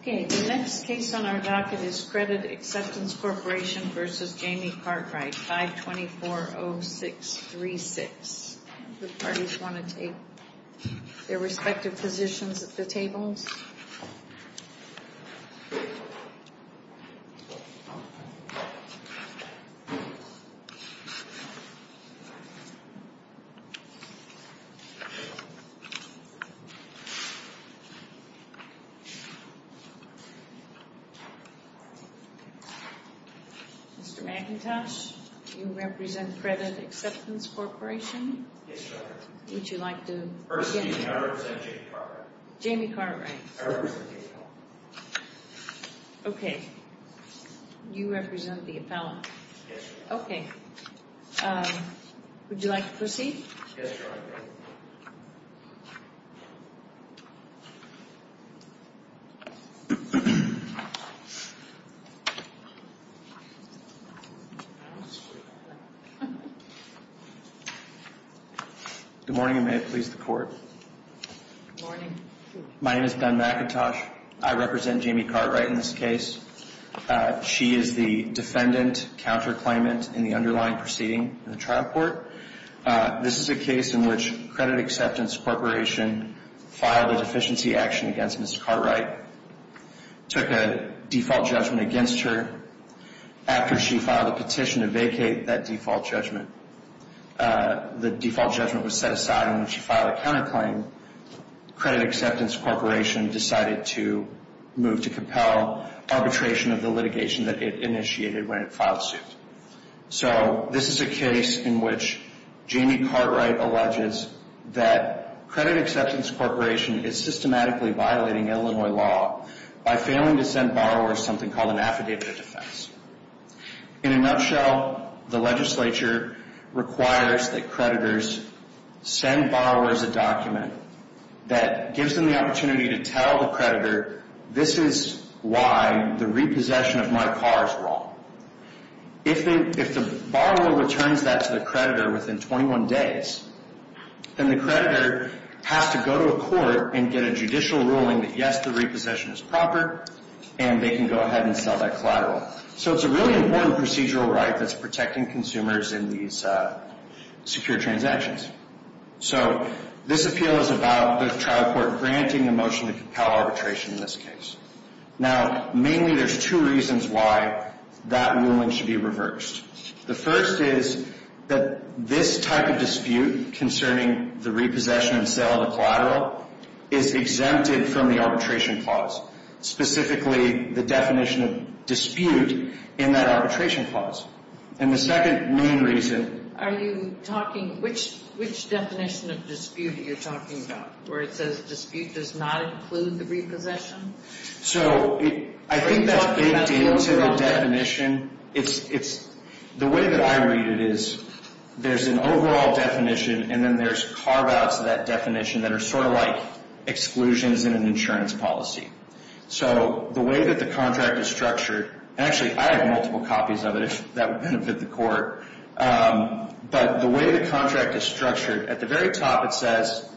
Okay, the next case on our docket is Credit Acceptance Corporation v. Jamie Cartwright, 524-0636. The parties want to take their respective positions at the tables. Mr. McIntosh, you represent Credit Acceptance Corporation? Yes, Your Honor. Would you like to begin? First name, I represent Jamie Cartwright. Jamie Cartwright. I represent the appellant. Okay, you represent the appellant. Yes, Your Honor. Okay, would you like to proceed? Yes, Your Honor. Good morning, and may it please the Court. Good morning. My name is Ben McIntosh. I represent Jamie Cartwright in this case. She is the defendant counterclaimant in the underlying proceeding in the trial court. This is a case in which Credit Acceptance Corporation filed a deficiency action against Ms. Cartwright, took a default judgment against her after she filed a petition to vacate that default judgment. The default judgment was set aside, and when she filed a counterclaim, Credit Acceptance Corporation decided to move to compel arbitration of the litigation that it initiated when it filed suit. So this is a case in which Jamie Cartwright alleges that Credit Acceptance Corporation is systematically violating Illinois law by failing to send borrowers something called an affidavit of defense. In a nutshell, the legislature requires that creditors send borrowers a document that gives them the opportunity to tell the creditor, this is why the repossession of my car is wrong. If the borrower returns that to the creditor within 21 days, then the creditor has to go to a court and get a judicial ruling that yes, the repossession is proper, and they can go ahead and sell that collateral. So it's a really important procedural right that's protecting consumers in these secure transactions. So this appeal is about the trial court granting a motion to compel arbitration in this case. Now, mainly there's two reasons why that ruling should be reversed. The first is that this type of dispute concerning the repossession and sale of the collateral is exempted from the arbitration clause, specifically the definition of dispute in that arbitration clause. And the second main reason... Are you talking, which definition of dispute are you talking about, where it says dispute does not include the repossession? So I think that's baked into the definition. The way that I read it is there's an overall definition, and then there's carve-outs of that definition that are sort of like exclusions in an insurance policy. So the way that the contract is structured, and actually I have multiple copies of it, that would benefit the court. But the way the contract is structured, at the very top it says,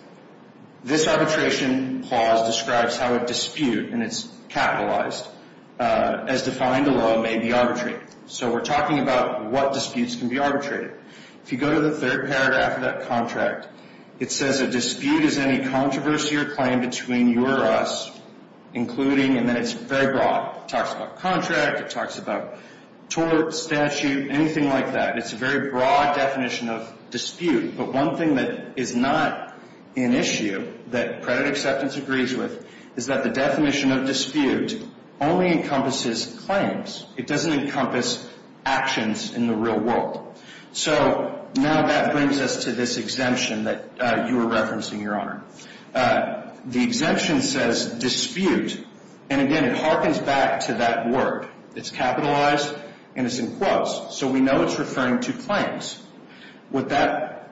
this arbitration clause describes how a dispute, and it's capitalized, as defined alone may be arbitrated. So we're talking about what disputes can be arbitrated. If you go to the third paragraph of that contract, it says a dispute is any controversy or claim between you or us, including, and then it's very broad. It talks about contract. It talks about tort, statute, anything like that. It's a very broad definition of dispute. But one thing that is not an issue that credit acceptance agrees with is that the definition of dispute only encompasses claims. It doesn't encompass actions in the real world. So now that brings us to this exemption that you were referencing, Your Honor. The exemption says dispute, and, again, it harkens back to that word. It's capitalized, and it's in quotes. So we know it's referring to claims. What that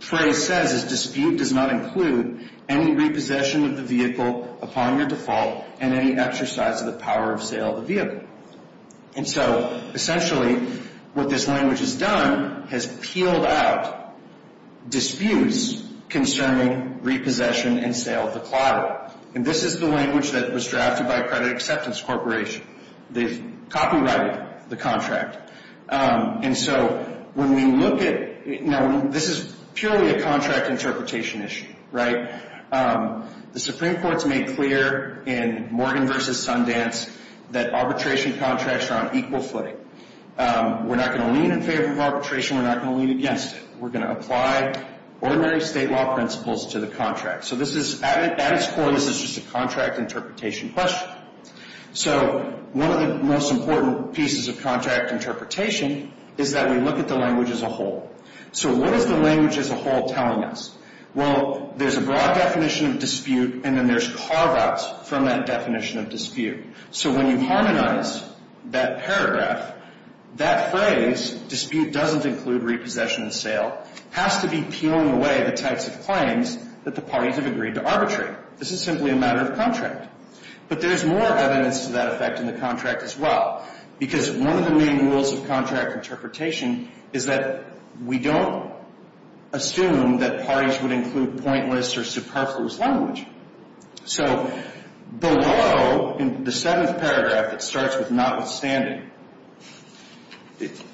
phrase says is dispute does not include any repossession of the vehicle upon your default and any exercise of the power of sale of the vehicle. And so, essentially, what this language has done has peeled out disputes concerning repossession and sale of the collateral. And this is the language that was drafted by a credit acceptance corporation. They've copyrighted the contract. And so when we look at it, now, this is purely a contract interpretation issue, right? The Supreme Court's made clear in Morgan v. Sundance that arbitration contracts are on equal footing. We're not going to lean in favor of arbitration. We're not going to lean against it. We're going to apply ordinary state law principles to the contract. So at its core, this is just a contract interpretation question. So one of the most important pieces of contract interpretation is that we look at the language as a whole. So what is the language as a whole telling us? Well, there's a broad definition of dispute and then there's carve-outs from that definition of dispute. So when you harmonize that paragraph, that phrase, dispute doesn't include repossession and sale, has to be peeling away the types of claims that the parties have agreed to arbitrate. This is simply a matter of contract. But there's more evidence to that effect in the contract as well because one of the main rules of contract interpretation is that we don't assume that parties would include pointless or superfluous language. So below, in the seventh paragraph, it starts with notwithstanding.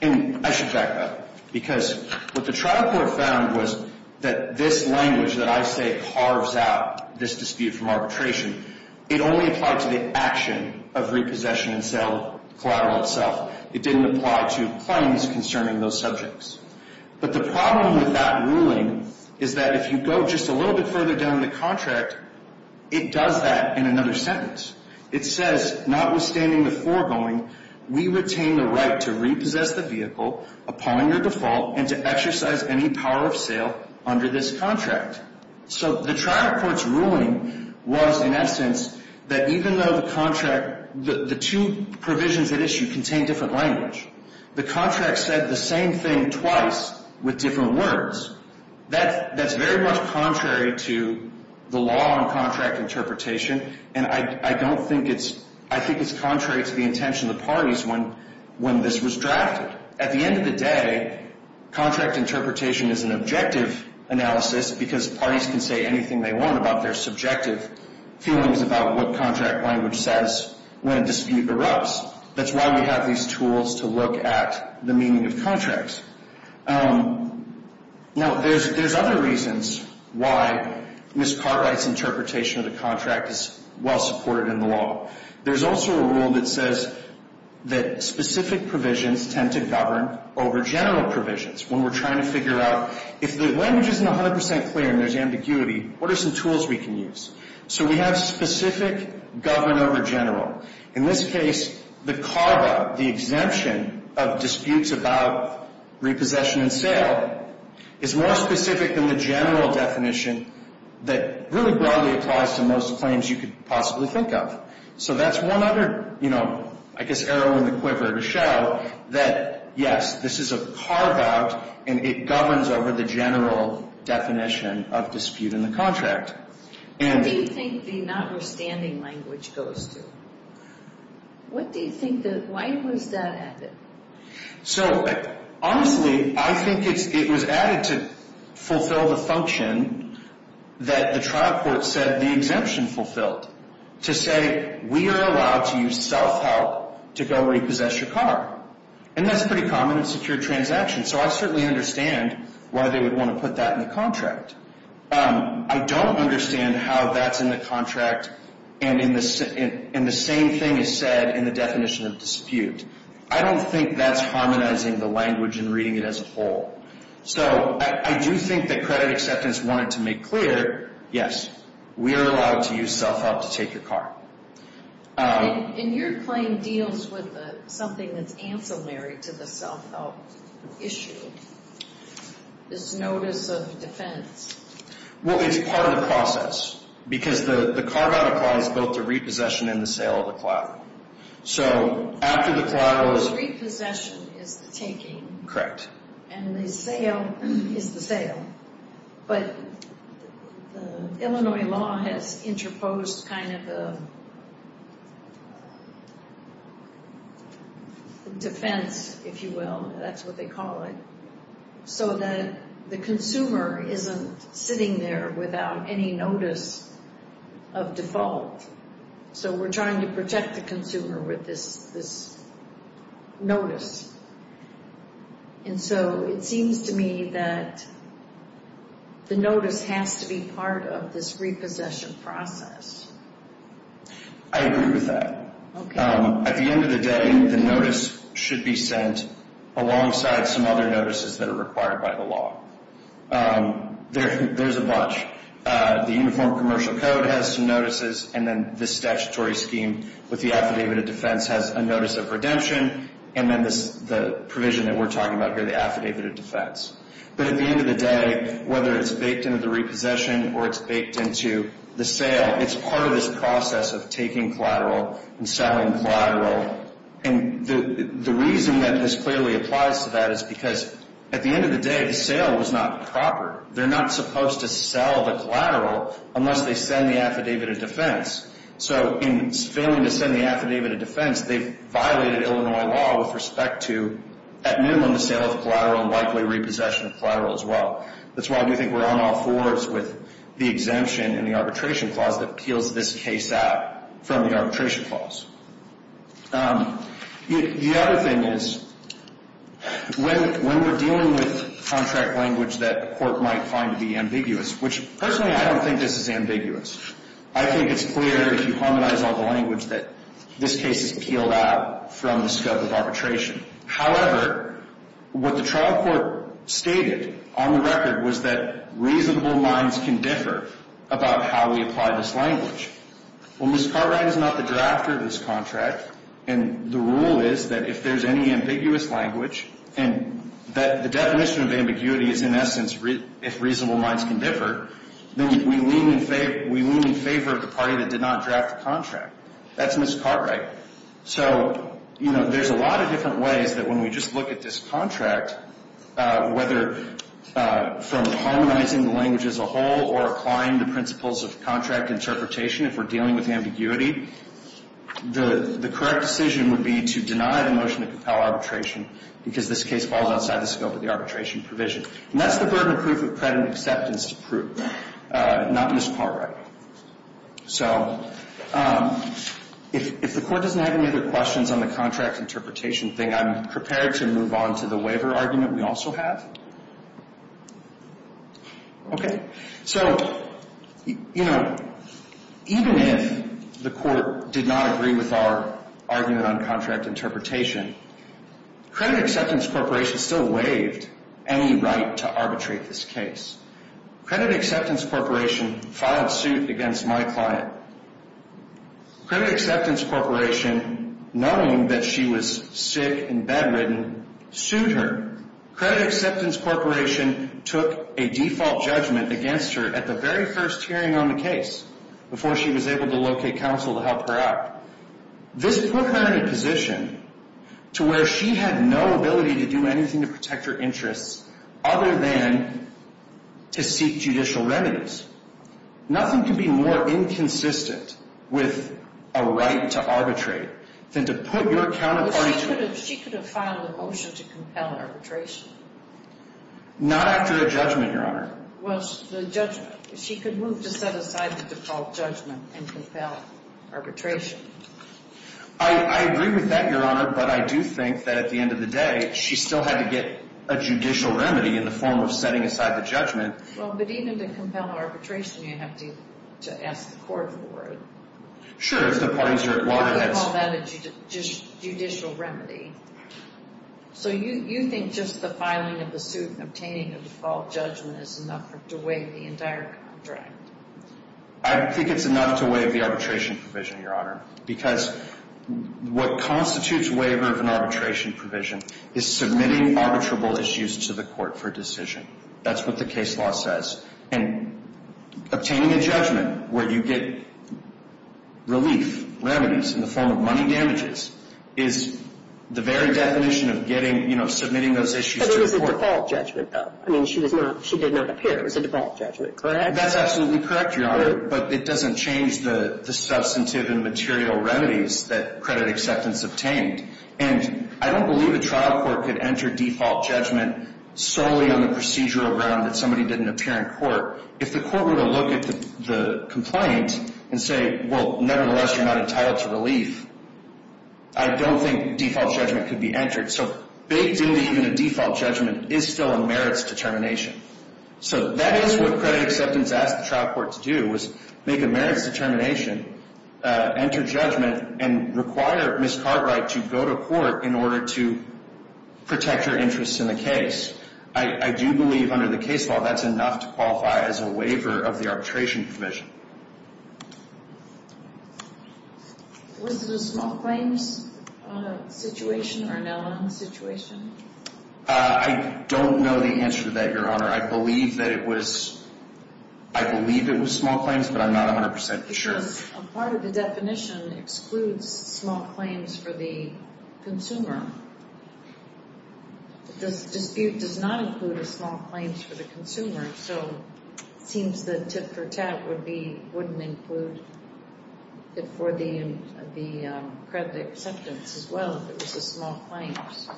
And I should back up because what the trial court found was that this language that I say carves out this dispute from arbitration, it only applied to the action of repossession and sale collateral itself. It didn't apply to claims concerning those subjects. But the problem with that ruling is that if you go just a little bit further down the contract, it does that in another sentence. It says, notwithstanding the foregoing, we retain the right to repossess the vehicle upon your default and to exercise any power of sale under this contract. So the trial court's ruling was, in essence, that even though the two provisions at issue contained different language, the contract said the same thing twice with different words. That's very much contrary to the law on contract interpretation, and I think it's contrary to the intention of the parties when this was drafted. At the end of the day, contract interpretation is an objective analysis because parties can say anything they want about their subjective feelings about what contract language says when a dispute erupts. That's why we have these tools to look at the meaning of contracts. Now, there's other reasons why Ms. Carr writes interpretation of the contract is well supported in the law. There's also a rule that says that specific provisions tend to govern over general provisions. When we're trying to figure out if the language isn't 100 percent clear and there's ambiguity, what are some tools we can use? So we have specific govern over general. In this case, the CARBA, the exemption of disputes about repossession and sale, is more specific than the general definition that really broadly applies to most claims you could possibly think of. So that's one other, you know, I guess arrow in the quiver to show that, yes, this is a CARBA, and it governs over the general definition of dispute in the contract. What do you think the notwithstanding language goes to? What do you think the – why was that added? So, honestly, I think it was added to fulfill the function that the trial court said the exemption fulfilled to say we are allowed to use self-help to go repossess your car. And that's pretty common in secure transactions, so I certainly understand why they would want to put that in the contract. I don't understand how that's in the contract and the same thing is said in the definition of dispute. I don't think that's harmonizing the language and reading it as a whole. So I do think that credit acceptance wanted to make clear, yes, we are allowed to use self-help to take your car. And your claim deals with something that's ancillary to the self-help issue, this notice of defense. Well, it's part of the process because the CARBA applies both to repossession and the sale of the car. So after the car was – Repossession is the taking. And the sale is the sale. But Illinois law has interposed kind of a defense, if you will, that's what they call it, so that the consumer isn't sitting there without any notice of default. So we're trying to protect the consumer with this notice. And so it seems to me that the notice has to be part of this repossession process. I agree with that. Okay. At the end of the day, the notice should be sent alongside some other notices that are required by the law. There's a bunch. The Uniform Commercial Code has some notices, and then the statutory scheme with the affidavit of defense has a notice of redemption, and then the provision that we're talking about here, the affidavit of defense. But at the end of the day, whether it's baked into the repossession or it's baked into the sale, it's part of this process of taking collateral and selling collateral. And the reason that this clearly applies to that is because at the end of the day, the sale was not proper. They're not supposed to sell the collateral unless they send the affidavit of defense. So in failing to send the affidavit of defense, they violated Illinois law with respect to, at minimum, the sale of collateral and likely repossession of collateral as well. That's why I do think we're on all fours with the exemption and the arbitration clause that peels this case out from the arbitration clause. The other thing is when we're dealing with contract language that the court might find to be ambiguous, which personally I don't think this is ambiguous, I think it's clear if you harmonize all the language that this case is peeled out from the scope of arbitration. However, what the trial court stated on the record was that reasonable minds can differ about how we apply this language. Well, Ms. Cartwright is not the drafter of this contract, and the rule is that if there's any ambiguous language, and the definition of ambiguity is in essence if reasonable minds can differ, then we lean in favor of the party that did not draft the contract. That's Ms. Cartwright. So, you know, there's a lot of different ways that when we just look at this contract, whether from harmonizing the language as a whole or applying the principles of contract interpretation if we're dealing with ambiguity, the correct decision would be to deny the motion to compel arbitration because this case falls outside the scope of the arbitration provision. And that's the burden of proof of credit and acceptance to prove, not Ms. Cartwright. So if the Court doesn't have any other questions on the contract interpretation thing, I'm prepared to move on to the waiver argument we also have. Okay. So, you know, even if the Court did not agree with our argument on contract interpretation, credit acceptance corporation still waived any right to arbitrate this case. Credit acceptance corporation filed suit against my client. Credit acceptance corporation, knowing that she was sick and bedridden, sued her. Credit acceptance corporation took a default judgment against her at the very first hearing on the case before she was able to locate counsel to help her out. This put her in a position to where she had no ability to do anything to protect her interests other than to seek judicial remedies. Nothing can be more inconsistent with a right to arbitrate than to put your counterparty to it. Not after a judgment, Your Honor. Well, the judgment. She could move to set aside the default judgment and compel arbitration. I agree with that, Your Honor, but I do think that at the end of the day, she still had to get a judicial remedy in the form of setting aside the judgment. Well, but even to compel arbitration, you have to ask the Court for it. Sure, if the parties are at loggerheads. You could call that a judicial remedy. So you think just the filing of the suit and obtaining a default judgment is enough to waive the entire contract? I think it's enough to waive the arbitration provision, Your Honor, because what constitutes waiver of an arbitration provision is submitting arbitrable issues to the Court for decision. That's what the case law says. And obtaining a judgment where you get relief remedies in the form of money damages is the very definition of submitting those issues to the Court. But it was a default judgment, though. I mean, she did not appear. It was a default judgment, correct? That's absolutely correct, Your Honor, but it doesn't change the substantive and material remedies that credit acceptance obtained. And I don't believe a trial court could enter default judgment solely on the procedural ground that somebody didn't appear in court. If the court were to look at the complaint and say, well, nevertheless, you're not entitled to relief, I don't think default judgment could be entered. So baked into even a default judgment is still a merits determination. So that is what credit acceptance asked the trial court to do, was make a merits determination, enter judgment, and require Ms. Cartwright to go to court in order to protect her interests in the case. I do believe under the case law that's enough to qualify as a waiver of the arbitration provision. Was it a small claims situation or a no-loan situation? I don't know the answer to that, Your Honor. I believe that it was small claims, but I'm not 100% sure. Because a part of the definition excludes small claims for the consumer. This dispute does not include a small claims for the consumer, so it seems that tit-for-tat wouldn't include it for the credit acceptance as well if it was a small claims.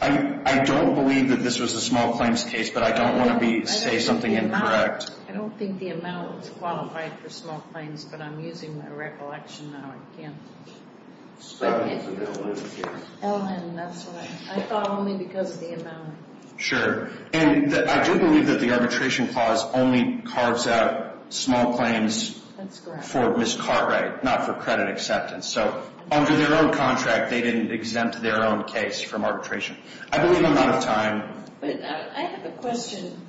I don't believe that this was a small claims case, but I don't want to say something incorrect. I don't think the amount is qualified for small claims, but I'm using my recollection now again. I thought only because of the amount. Sure. And I do believe that the arbitration clause only carves out small claims for Ms. Cartwright, not for credit acceptance. So under their own contract, they didn't exempt their own case from arbitration. I believe I'm out of time. I have a question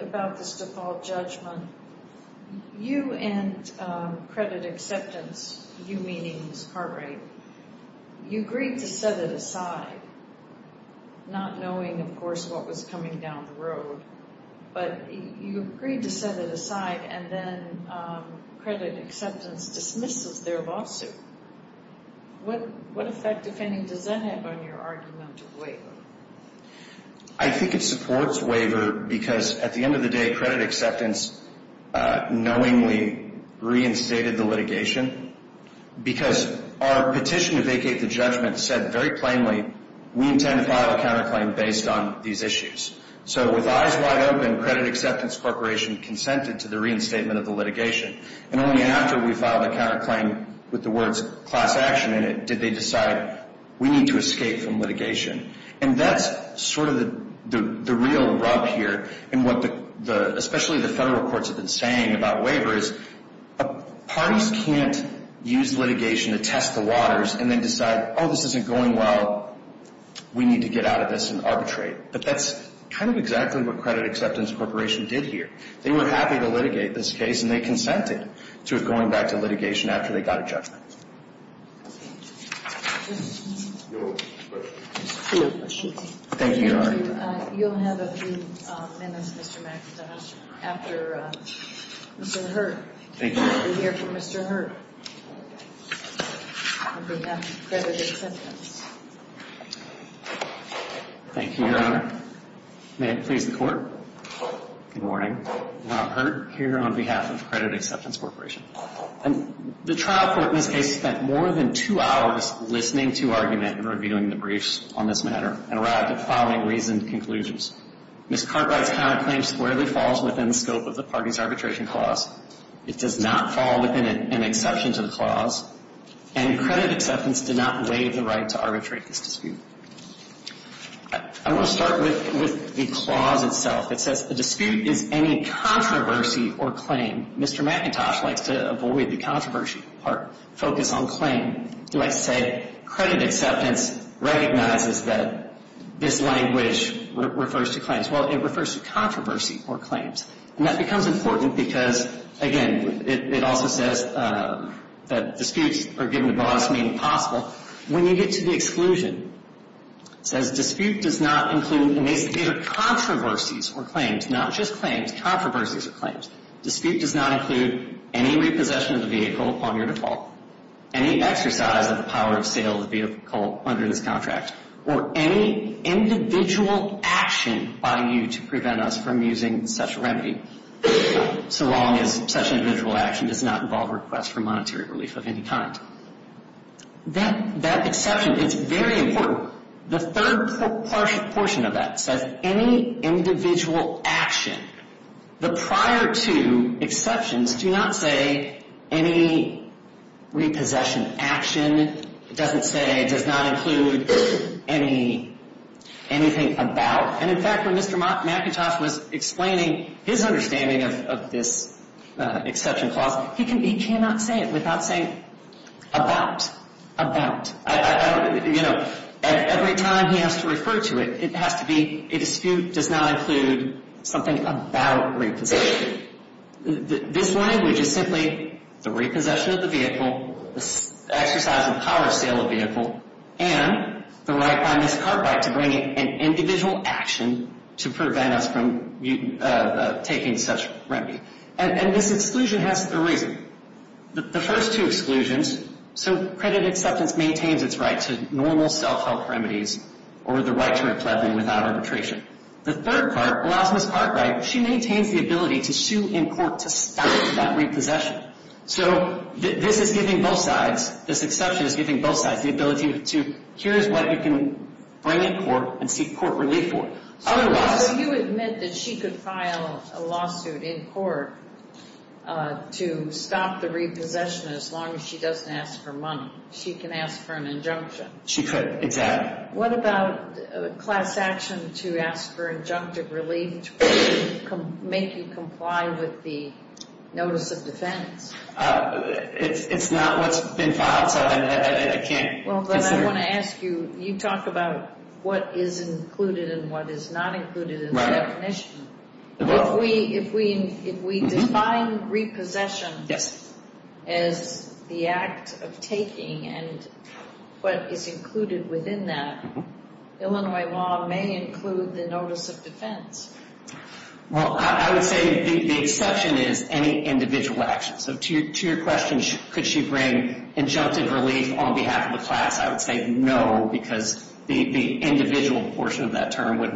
about this default judgment. You and credit acceptance, you meaning Ms. Cartwright, you agreed to set it aside, not knowing, of course, what was coming down the road. But you agreed to set it aside, and then credit acceptance dismisses their lawsuit. What effect, if any, does that have on your argument of waiver? I think it supports waiver because at the end of the day, credit acceptance knowingly reinstated the litigation because our petition to vacate the judgment said very plainly, we intend to file a counterclaim based on these issues. So with eyes wide open, credit acceptance corporation consented to the reinstatement of the litigation. And only after we filed a counterclaim with the words class action in it did they decide we need to escape from litigation. And that's sort of the real rub here in what especially the federal courts have been saying about waivers. Parties can't use litigation to test the waters and then decide, oh, this isn't going well. We need to get out of this and arbitrate. But that's kind of exactly what credit acceptance corporation did here. They were happy to litigate this case, and they consented to it going back to litigation after they got a judgment. Thank you, Your Honor. You'll have a few minutes, Mr. McIntosh, after Mr. Hurd. Thank you, Your Honor. We'll hear from Mr. Hurd on behalf of credit acceptance. Thank you, Your Honor. May it please the Court. Good morning. Rob Hurd here on behalf of credit acceptance corporation. And the trial court in this case spent more than two hours listening to argument and reviewing the briefs on this matter and arrived at the following reasoned conclusions. Ms. Cartwright's counterclaim squarely falls within the scope of the parties arbitration clause. It does not fall within an exception to the clause. And credit acceptance did not waive the right to arbitrate this dispute. I want to start with the clause itself. It says the dispute is any controversy or claim. Mr. McIntosh likes to avoid the controversy part, focus on claim. He likes to say credit acceptance recognizes that this language refers to claims. Well, it refers to controversy or claims. And that becomes important because, again, it also says that disputes are given the broadest meaning possible. When you get to the exclusion, it says dispute does not include either controversies or claims, not just claims, controversies or claims. Dispute does not include any repossession of the vehicle upon your default, any exercise of the power of sale of the vehicle under this contract, or any individual action by you to prevent us from using such a remedy, so long as such an individual action does not involve a request for monetary relief of any kind. That exception is very important. The third portion of that says any individual action. The prior two exceptions do not say any repossession action. It doesn't say it does not include anything about. And, in fact, when Mr. McIntosh was explaining his understanding of this exception clause, he cannot say it without saying about, about. You know, every time he has to refer to it, it has to be a dispute does not include something about repossession. This language is simply the repossession of the vehicle, the exercise of the power of sale of the vehicle, and the right by Ms. Cartwright to bring an individual action to prevent us from taking such a remedy. And this exclusion has a reason. The first two exclusions, so credit acceptance maintains its right to normal self-help remedies or the right to reclaim without arbitration. The third part allows Ms. Cartwright, she maintains the ability to sue in court to stop that repossession. So this is giving both sides, this exception is giving both sides the ability to, here is what you can bring in court and seek court relief for. Otherwise. So you admit that she could file a lawsuit in court to stop the repossession as long as she doesn't ask for money. She can ask for an injunction. She could, exactly. What about class action to ask for injunctive relief to make you comply with the notice of defense? It's not what's been filed, so I can't consider. Well, then I want to ask you, you talk about what is included and what is not included in the definition. If we define repossession as the act of taking and what is included within that, Illinois law may include the notice of defense. Well, I would say the exception is any individual action. So to your question, could she bring injunctive relief on behalf of the class, I would say no, because the individual portion of that term would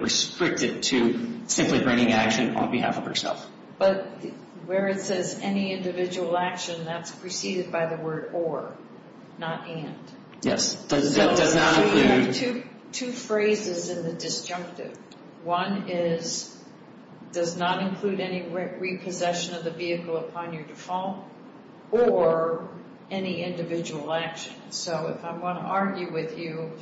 restrict it to simply bringing action on behalf of herself. But where it says any individual action, that's preceded by the word or, not and. Yes. So we have two phrases in the disjunctive. One is, does not include any repossession of the vehicle upon your default, or any individual action. So if I want to argue with you,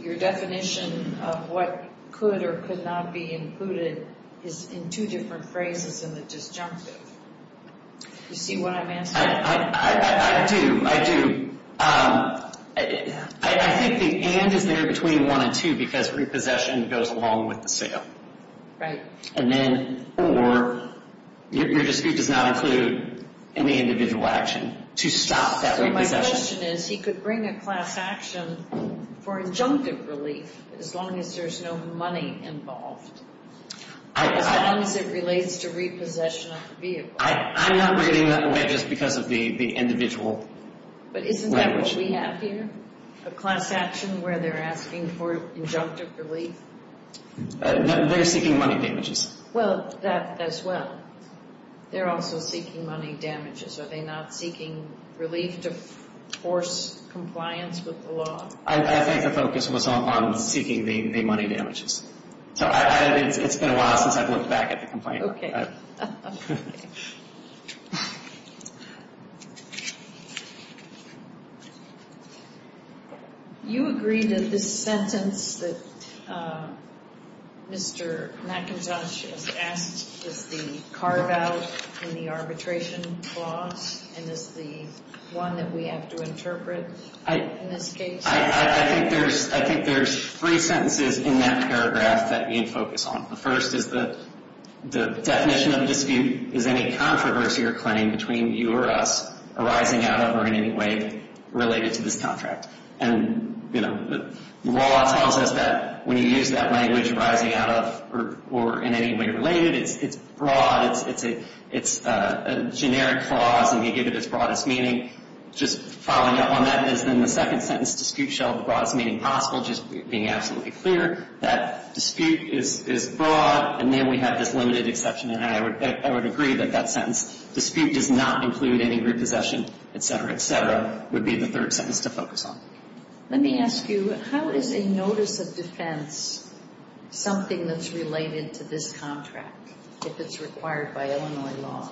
your definition of what could or could not be included is in two different phrases in the disjunctive. Do you see what I'm asking? I do, I do. I think the and is there between one and two because repossession goes along with the sale. And then, or, your dispute does not include any individual action to stop that repossession. So my question is, he could bring a class action for injunctive relief as long as there's no money involved. As long as it relates to repossession of the vehicle. I'm not reading that away just because of the individual. But isn't that what we have here? A class action where they're asking for injunctive relief? They're seeking money damages. Well, that as well. They're also seeking money damages. Are they not seeking relief to force compliance with the law? I think the focus was on seeking the money damages. So it's been a while since I've looked back at the complaint. Okay. You agree that this sentence that Mr. McIntosh has asked is the carve out in the arbitration clause? And is the one that we have to interpret in this case? I think there's three sentences in that paragraph that we focus on. The first is the definition of the term. The definition of dispute is any controversy or claim between you or us arising out of or in any way related to this contract. And, you know, the law tells us that when you use that language arising out of or in any way related, it's broad. It's a generic clause. And you give it its broadest meaning. Just following up on that is then the second sentence, dispute shall have the broadest meaning possible. Just being absolutely clear that dispute is broad. And then we have this limited exception. And I would agree that that sentence, dispute does not include any repossession, et cetera, et cetera, would be the third sentence to focus on. Let me ask you, how is a notice of defense something that's related to this contract if it's required by Illinois law?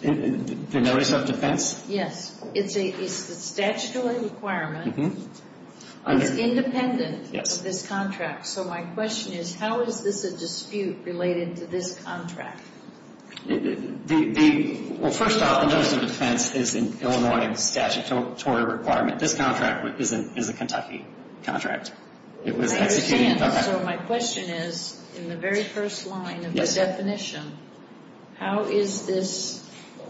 The notice of defense? Yes. It's a statutory requirement. It's independent of this contract. So my question is, how is this a dispute related to this contract? Well, first off, the notice of defense is an Illinois statutory requirement. This contract is a Kentucky contract. It was executed in Kentucky. I understand. So my question is, in the very first line of the definition, how is this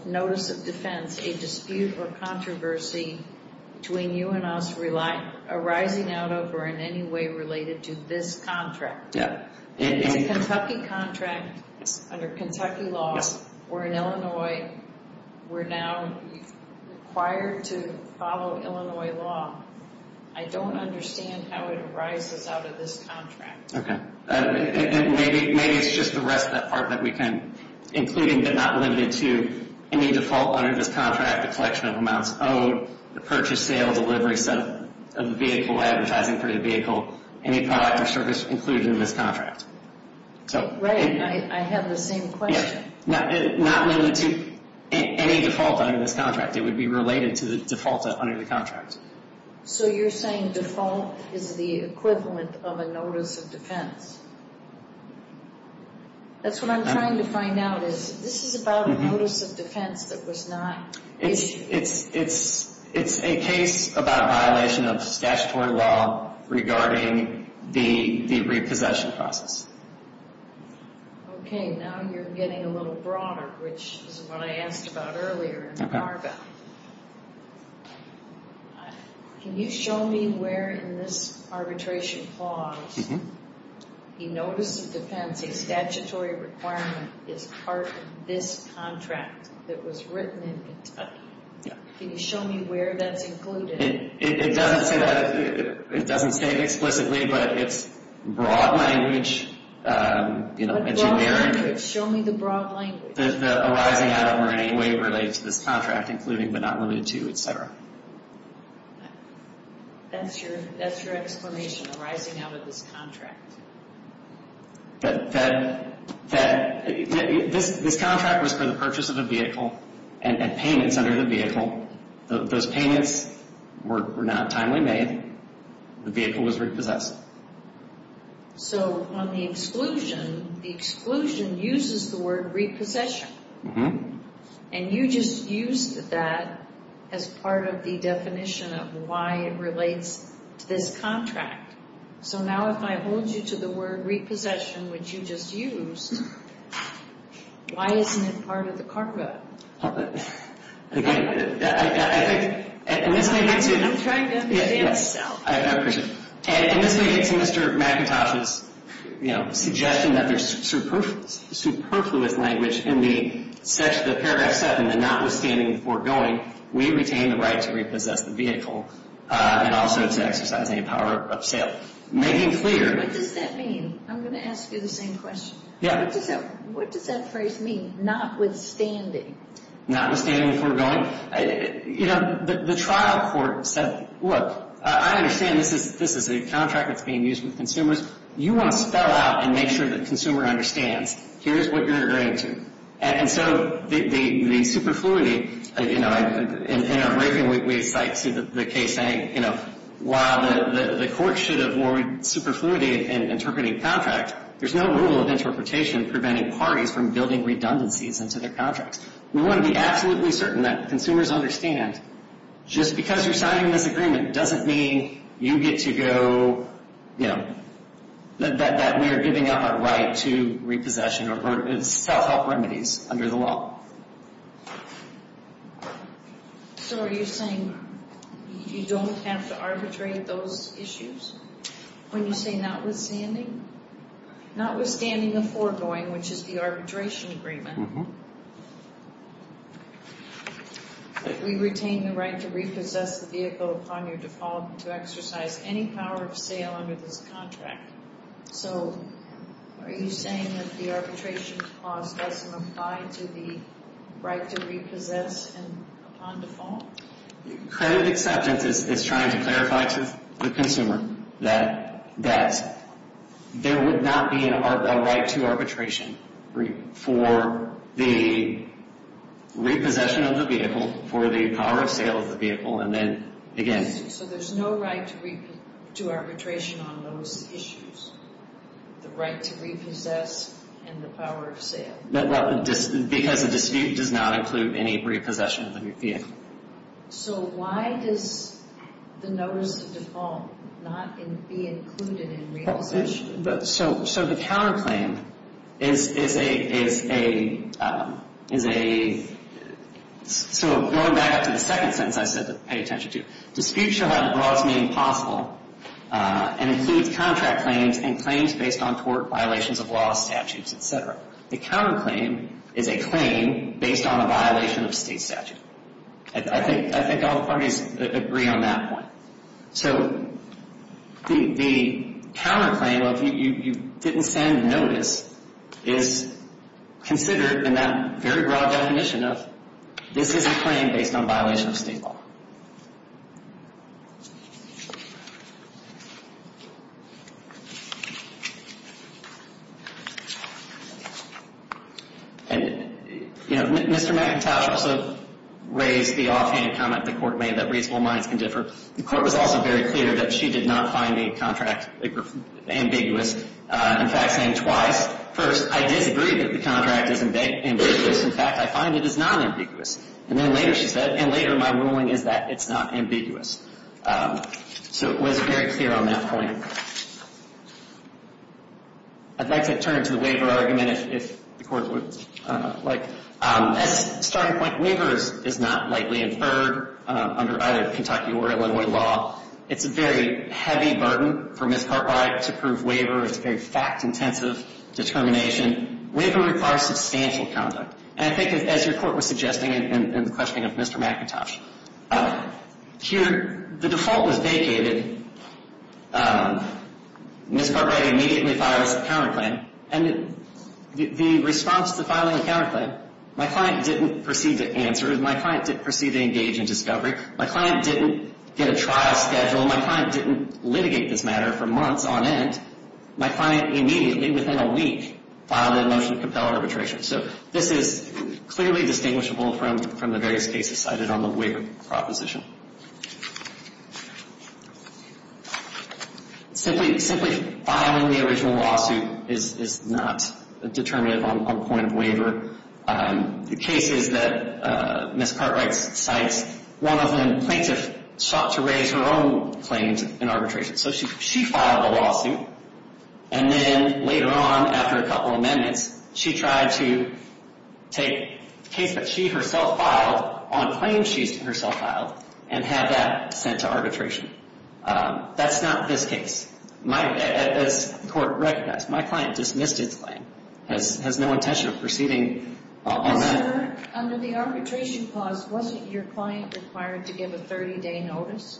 notice of defense a dispute or controversy between you and us arising out of or in any way related to this contract? It's a Kentucky contract under Kentucky law. We're in Illinois. We're now required to follow Illinois law. I don't understand how it arises out of this contract. Maybe it's just the rest of that part that we can, including but not limited to, any default under this contract, the collection of amounts owed, the purchase, sale, delivery, setup of the vehicle, advertising for the vehicle, any product or service included in this contract. Right. I have the same question. Not limited to any default under this contract. It would be related to the default under the contract. So you're saying default is the equivalent of a notice of defense. That's what I'm trying to find out is this is about a notice of defense that was not... It's a case about a violation of statutory law regarding the repossession process. Okay. Now you're getting a little broader, which is what I asked about earlier. Can you show me where in this arbitration clause you notice of defense a statutory requirement is part of this contract that was written in Kentucky? Yeah. Can you show me where that's included? It doesn't say that. It doesn't say it explicitly, but it's broad language. Show me the broad language. The arising out of or in any way related to this contract, including but not limited to, etc. That's your explanation, arising out of this contract. This contract was for the purchase of a vehicle and payments under the vehicle. Those payments were not timely made. The vehicle was repossessed. So on the exclusion, the exclusion uses the word repossession. And you just used that as part of the definition of why it relates to this contract. So now if I hold you to the word repossession, which you just used, why isn't it part of the carpet? Again, I think, and this may get to. I'm trying to understand myself. I understand. And this may get to Mr. McIntosh's, you know, suggestion that there's superfluous language in the paragraph 7, the notwithstanding the foregoing, we retain the right to repossess the vehicle and also to exercise any power of sale. Making clear. What does that mean? I'm going to ask you the same question. Yeah. What does that phrase mean, notwithstanding? Notwithstanding the foregoing? You know, the trial court said, look, I understand this is a contract that's being used with consumers. You want to spell out and make sure the consumer understands. Here's what you're agreeing to. And so the superfluity, you know, in our briefing, we cite the case saying, you know, while the court should have more superfluity in interpreting contract, there's no rule of interpretation preventing parties from building redundancies into their contracts. We want to be absolutely certain that consumers understand. Just because you're signing this agreement doesn't mean you get to go, you know, that we are giving up our right to repossession or self-help remedies under the law. So are you saying you don't have to arbitrate those issues? When you say notwithstanding? Notwithstanding the foregoing, which is the arbitration agreement. We retain the right to repossess the vehicle upon your default to exercise any power of sale under this contract. So are you saying that the arbitration clause doesn't apply to the right to repossess upon default? Credit acceptance is trying to clarify to the consumer that there would not be a right to arbitration for the repossession of the vehicle, for the power of sale of the vehicle. So there's no right to arbitration on those issues? The right to repossess and the power of sale? Because the dispute does not include any repossession of the vehicle. So why does the notice of default not be included in realization? So the counterclaim is a... So going back up to the second sentence I said to pay attention to. Disputes shall have the broadest meaning possible and include contract claims and claims based on tort, violations of law, statutes, etc. The counterclaim is a claim based on a violation of state statute. I think all the parties agree on that point. So the counterclaim of you didn't send notice is considered in that very broad definition of this is a claim based on violation of state law. And Mr. McIntosh also raised the offhand comment the Court made that reasonable minds can differ. The Court was also very clear that she did not find the contract ambiguous. In fact, saying twice, first, I disagree that the contract is ambiguous. In fact, I find it is non-ambiguous. And then later she said, and later my ruling is that it's not ambiguous. So it was very clear on that point. I'd like to turn to the waiver argument if the Court would like. As a starting point, waiver is not lightly inferred under either Kentucky or Illinois law. It's a very heavy burden for Ms. Cartwright to prove waiver. It's a very fact-intensive determination. Waiver requires substantial conduct. And I think as your Court was suggesting in the questioning of Mr. McIntosh, here the default was vacated. Ms. Cartwright immediately files the counterclaim. And the response to filing a counterclaim, my client didn't proceed to answer. My client didn't proceed to engage in discovery. My client didn't get a trial schedule. My client didn't litigate this matter for months on end. My client immediately, within a week, filed a motion to compel arbitration. So this is clearly distinguishable from the various cases cited on the waiver proposition. Simply filing the original lawsuit is not a determinative on point of waiver. The cases that Ms. Cartwright cites, one of them, plaintiff sought to raise her own claims in arbitration. So she filed a lawsuit. And then later on, after a couple of amendments, she tried to take a case that she herself filed on claims she herself filed and had that sent to arbitration. That's not this case. As the Court recognized, my client dismissed its claim. Has no intention of proceeding on that. But, sir, under the arbitration clause, wasn't your client required to give a 30-day notice?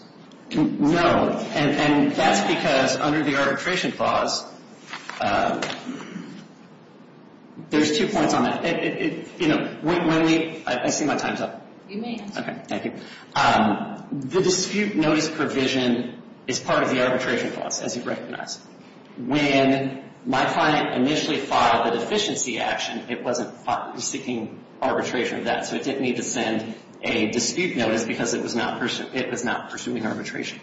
No. And that's because under the arbitration clause, there's two points on that. I see my time's up. You may. Okay, thank you. The dispute notice provision is part of the arbitration clause, as you recognize. When my client initially filed the deficiency action, it wasn't seeking arbitration of that. So it didn't need to send a dispute notice because it was not pursuing arbitration.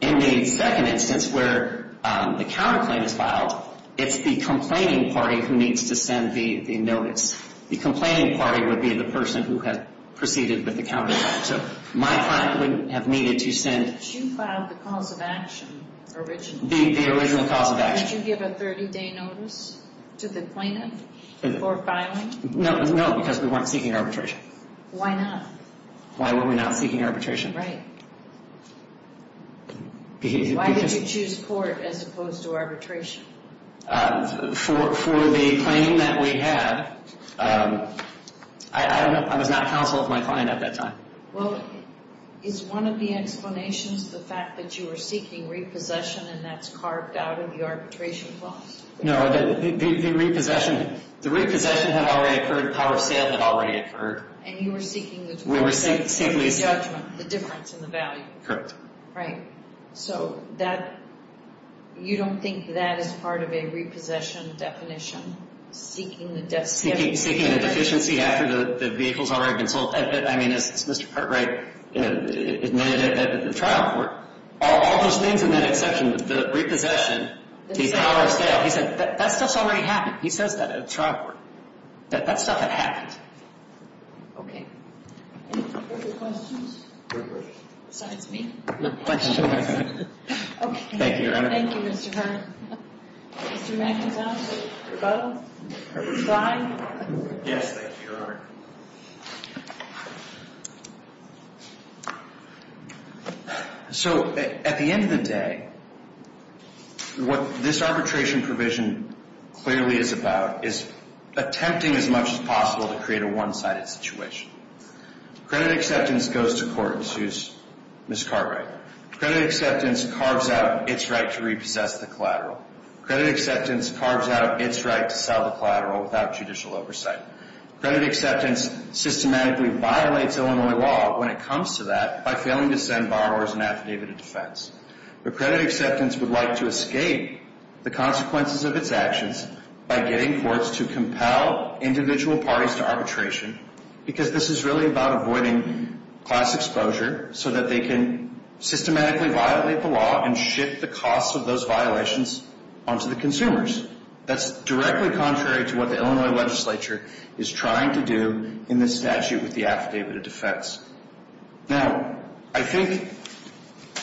In the second instance where the counterclaim is filed, it's the complaining party who needs to send the notice. The complaining party would be the person who had proceeded with the counterclaim. So my client wouldn't have needed to send the original cause of action. Did you give a 30-day notice to the plaintiff before filing? No, because we weren't seeking arbitration. Why not? Why were we not seeking arbitration? Right. Why did you choose court as opposed to arbitration? For the claim that we had, I don't know. I was not counsel of my client at that time. Well, is one of the explanations the fact that you were seeking repossession and that's carved out of the arbitration clause? No, the repossession had already occurred. The power of sale had already occurred. And you were seeking the judgment, the difference in the value. Correct. Right. So you don't think that is part of a repossession definition? Seeking a deficiency after the vehicle's already been sold? I mean, as Mr. Cartwright admitted at the trial court, all those things in that exception, the repossession, the power of sale, he said that stuff's already happened. He says that at a trial court, that that stuff had happened. Okay. Any further questions? No questions. Besides me? No questions. Okay. Thank you, Your Honor. Thank you, Mr. Hart. Mr. McIntosh, Bowe, Klein? Yes, thank you, Your Honor. So at the end of the day, what this arbitration provision clearly is about is attempting as much as possible to create a one-sided situation. Credit acceptance goes to court in Sue's Ms. Cartwright. Credit acceptance carves out its right to repossess the collateral. Credit acceptance carves out its right to sell the collateral without judicial oversight. Credit acceptance systematically violates Illinois law when it comes to that by failing to send borrowers an affidavit of defense. But credit acceptance would like to escape the consequences of its actions by getting courts to compel individual parties to arbitration because this is really about avoiding class exposure so that they can systematically violate the law and shift the cost of those violations onto the consumers. That's directly contrary to what the Illinois legislature is trying to do in this statute with the affidavit of defense. Now, I think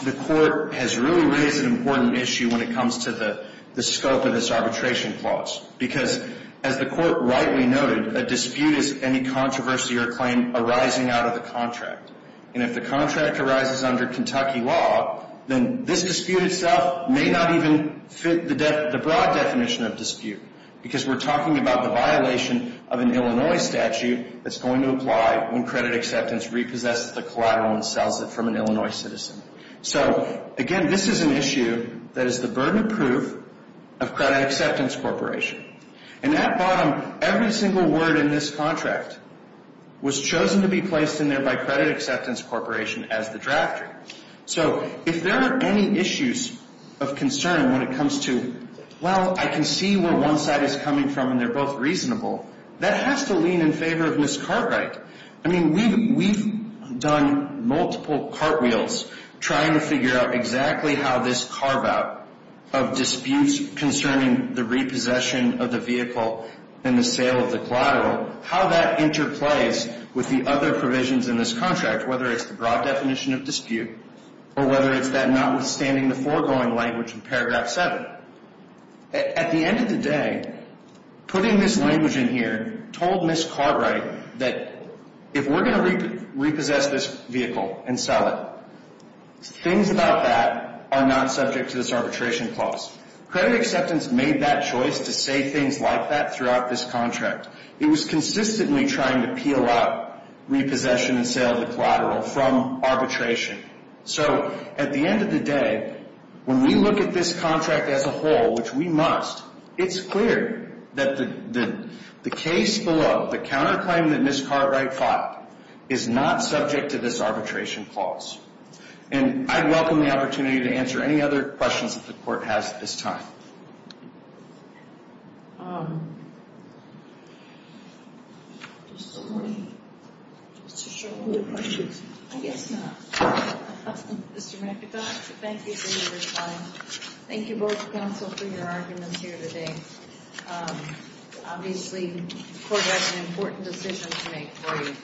the court has really raised an important issue when it comes to the scope of this arbitration clause because, as the court rightly noted, a dispute is any controversy or claim arising out of the contract. And if the contract arises under Kentucky law, then this dispute itself may not even fit the broad definition of dispute because we're talking about the violation of an Illinois statute that's going to apply when credit acceptance repossesses the collateral and sells it from an Illinois citizen. So, again, this is an issue that is the burden of proof of credit acceptance corporation. And at bottom, every single word in this contract was chosen to be placed in there by credit acceptance corporation as the drafter. So if there are any issues of concern when it comes to, well, I can see where one side is coming from and they're both reasonable, that has to lean in favor of Ms. Cartwright. I mean, we've done multiple cartwheels trying to figure out exactly how this carve-out of disputes concerning the repossession of the vehicle and the sale of the collateral, how that interplays with the other provisions in this contract, whether it's the broad definition of dispute or whether it's that notwithstanding the foregoing language in paragraph 7. At the end of the day, putting this language in here told Ms. Cartwright that if we're going to repossess this vehicle and sell it, things about that are not subject to this arbitration clause. Credit acceptance made that choice to say things like that throughout this contract. It was consistently trying to peel out repossession and sale of the collateral from arbitration. So at the end of the day, when we look at this contract as a whole, which we must, it's clear that the case below, the counterclaim that Ms. Cartwright fought, is not subject to this arbitration clause. And I'd welcome the opportunity to answer any other questions that the Court has at this time. Thank you both counsel for your arguments here today. Obviously, the Court has an important decision to make for you.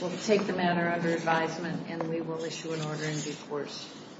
We'll take the matter under advisement and we will issue an order in due course.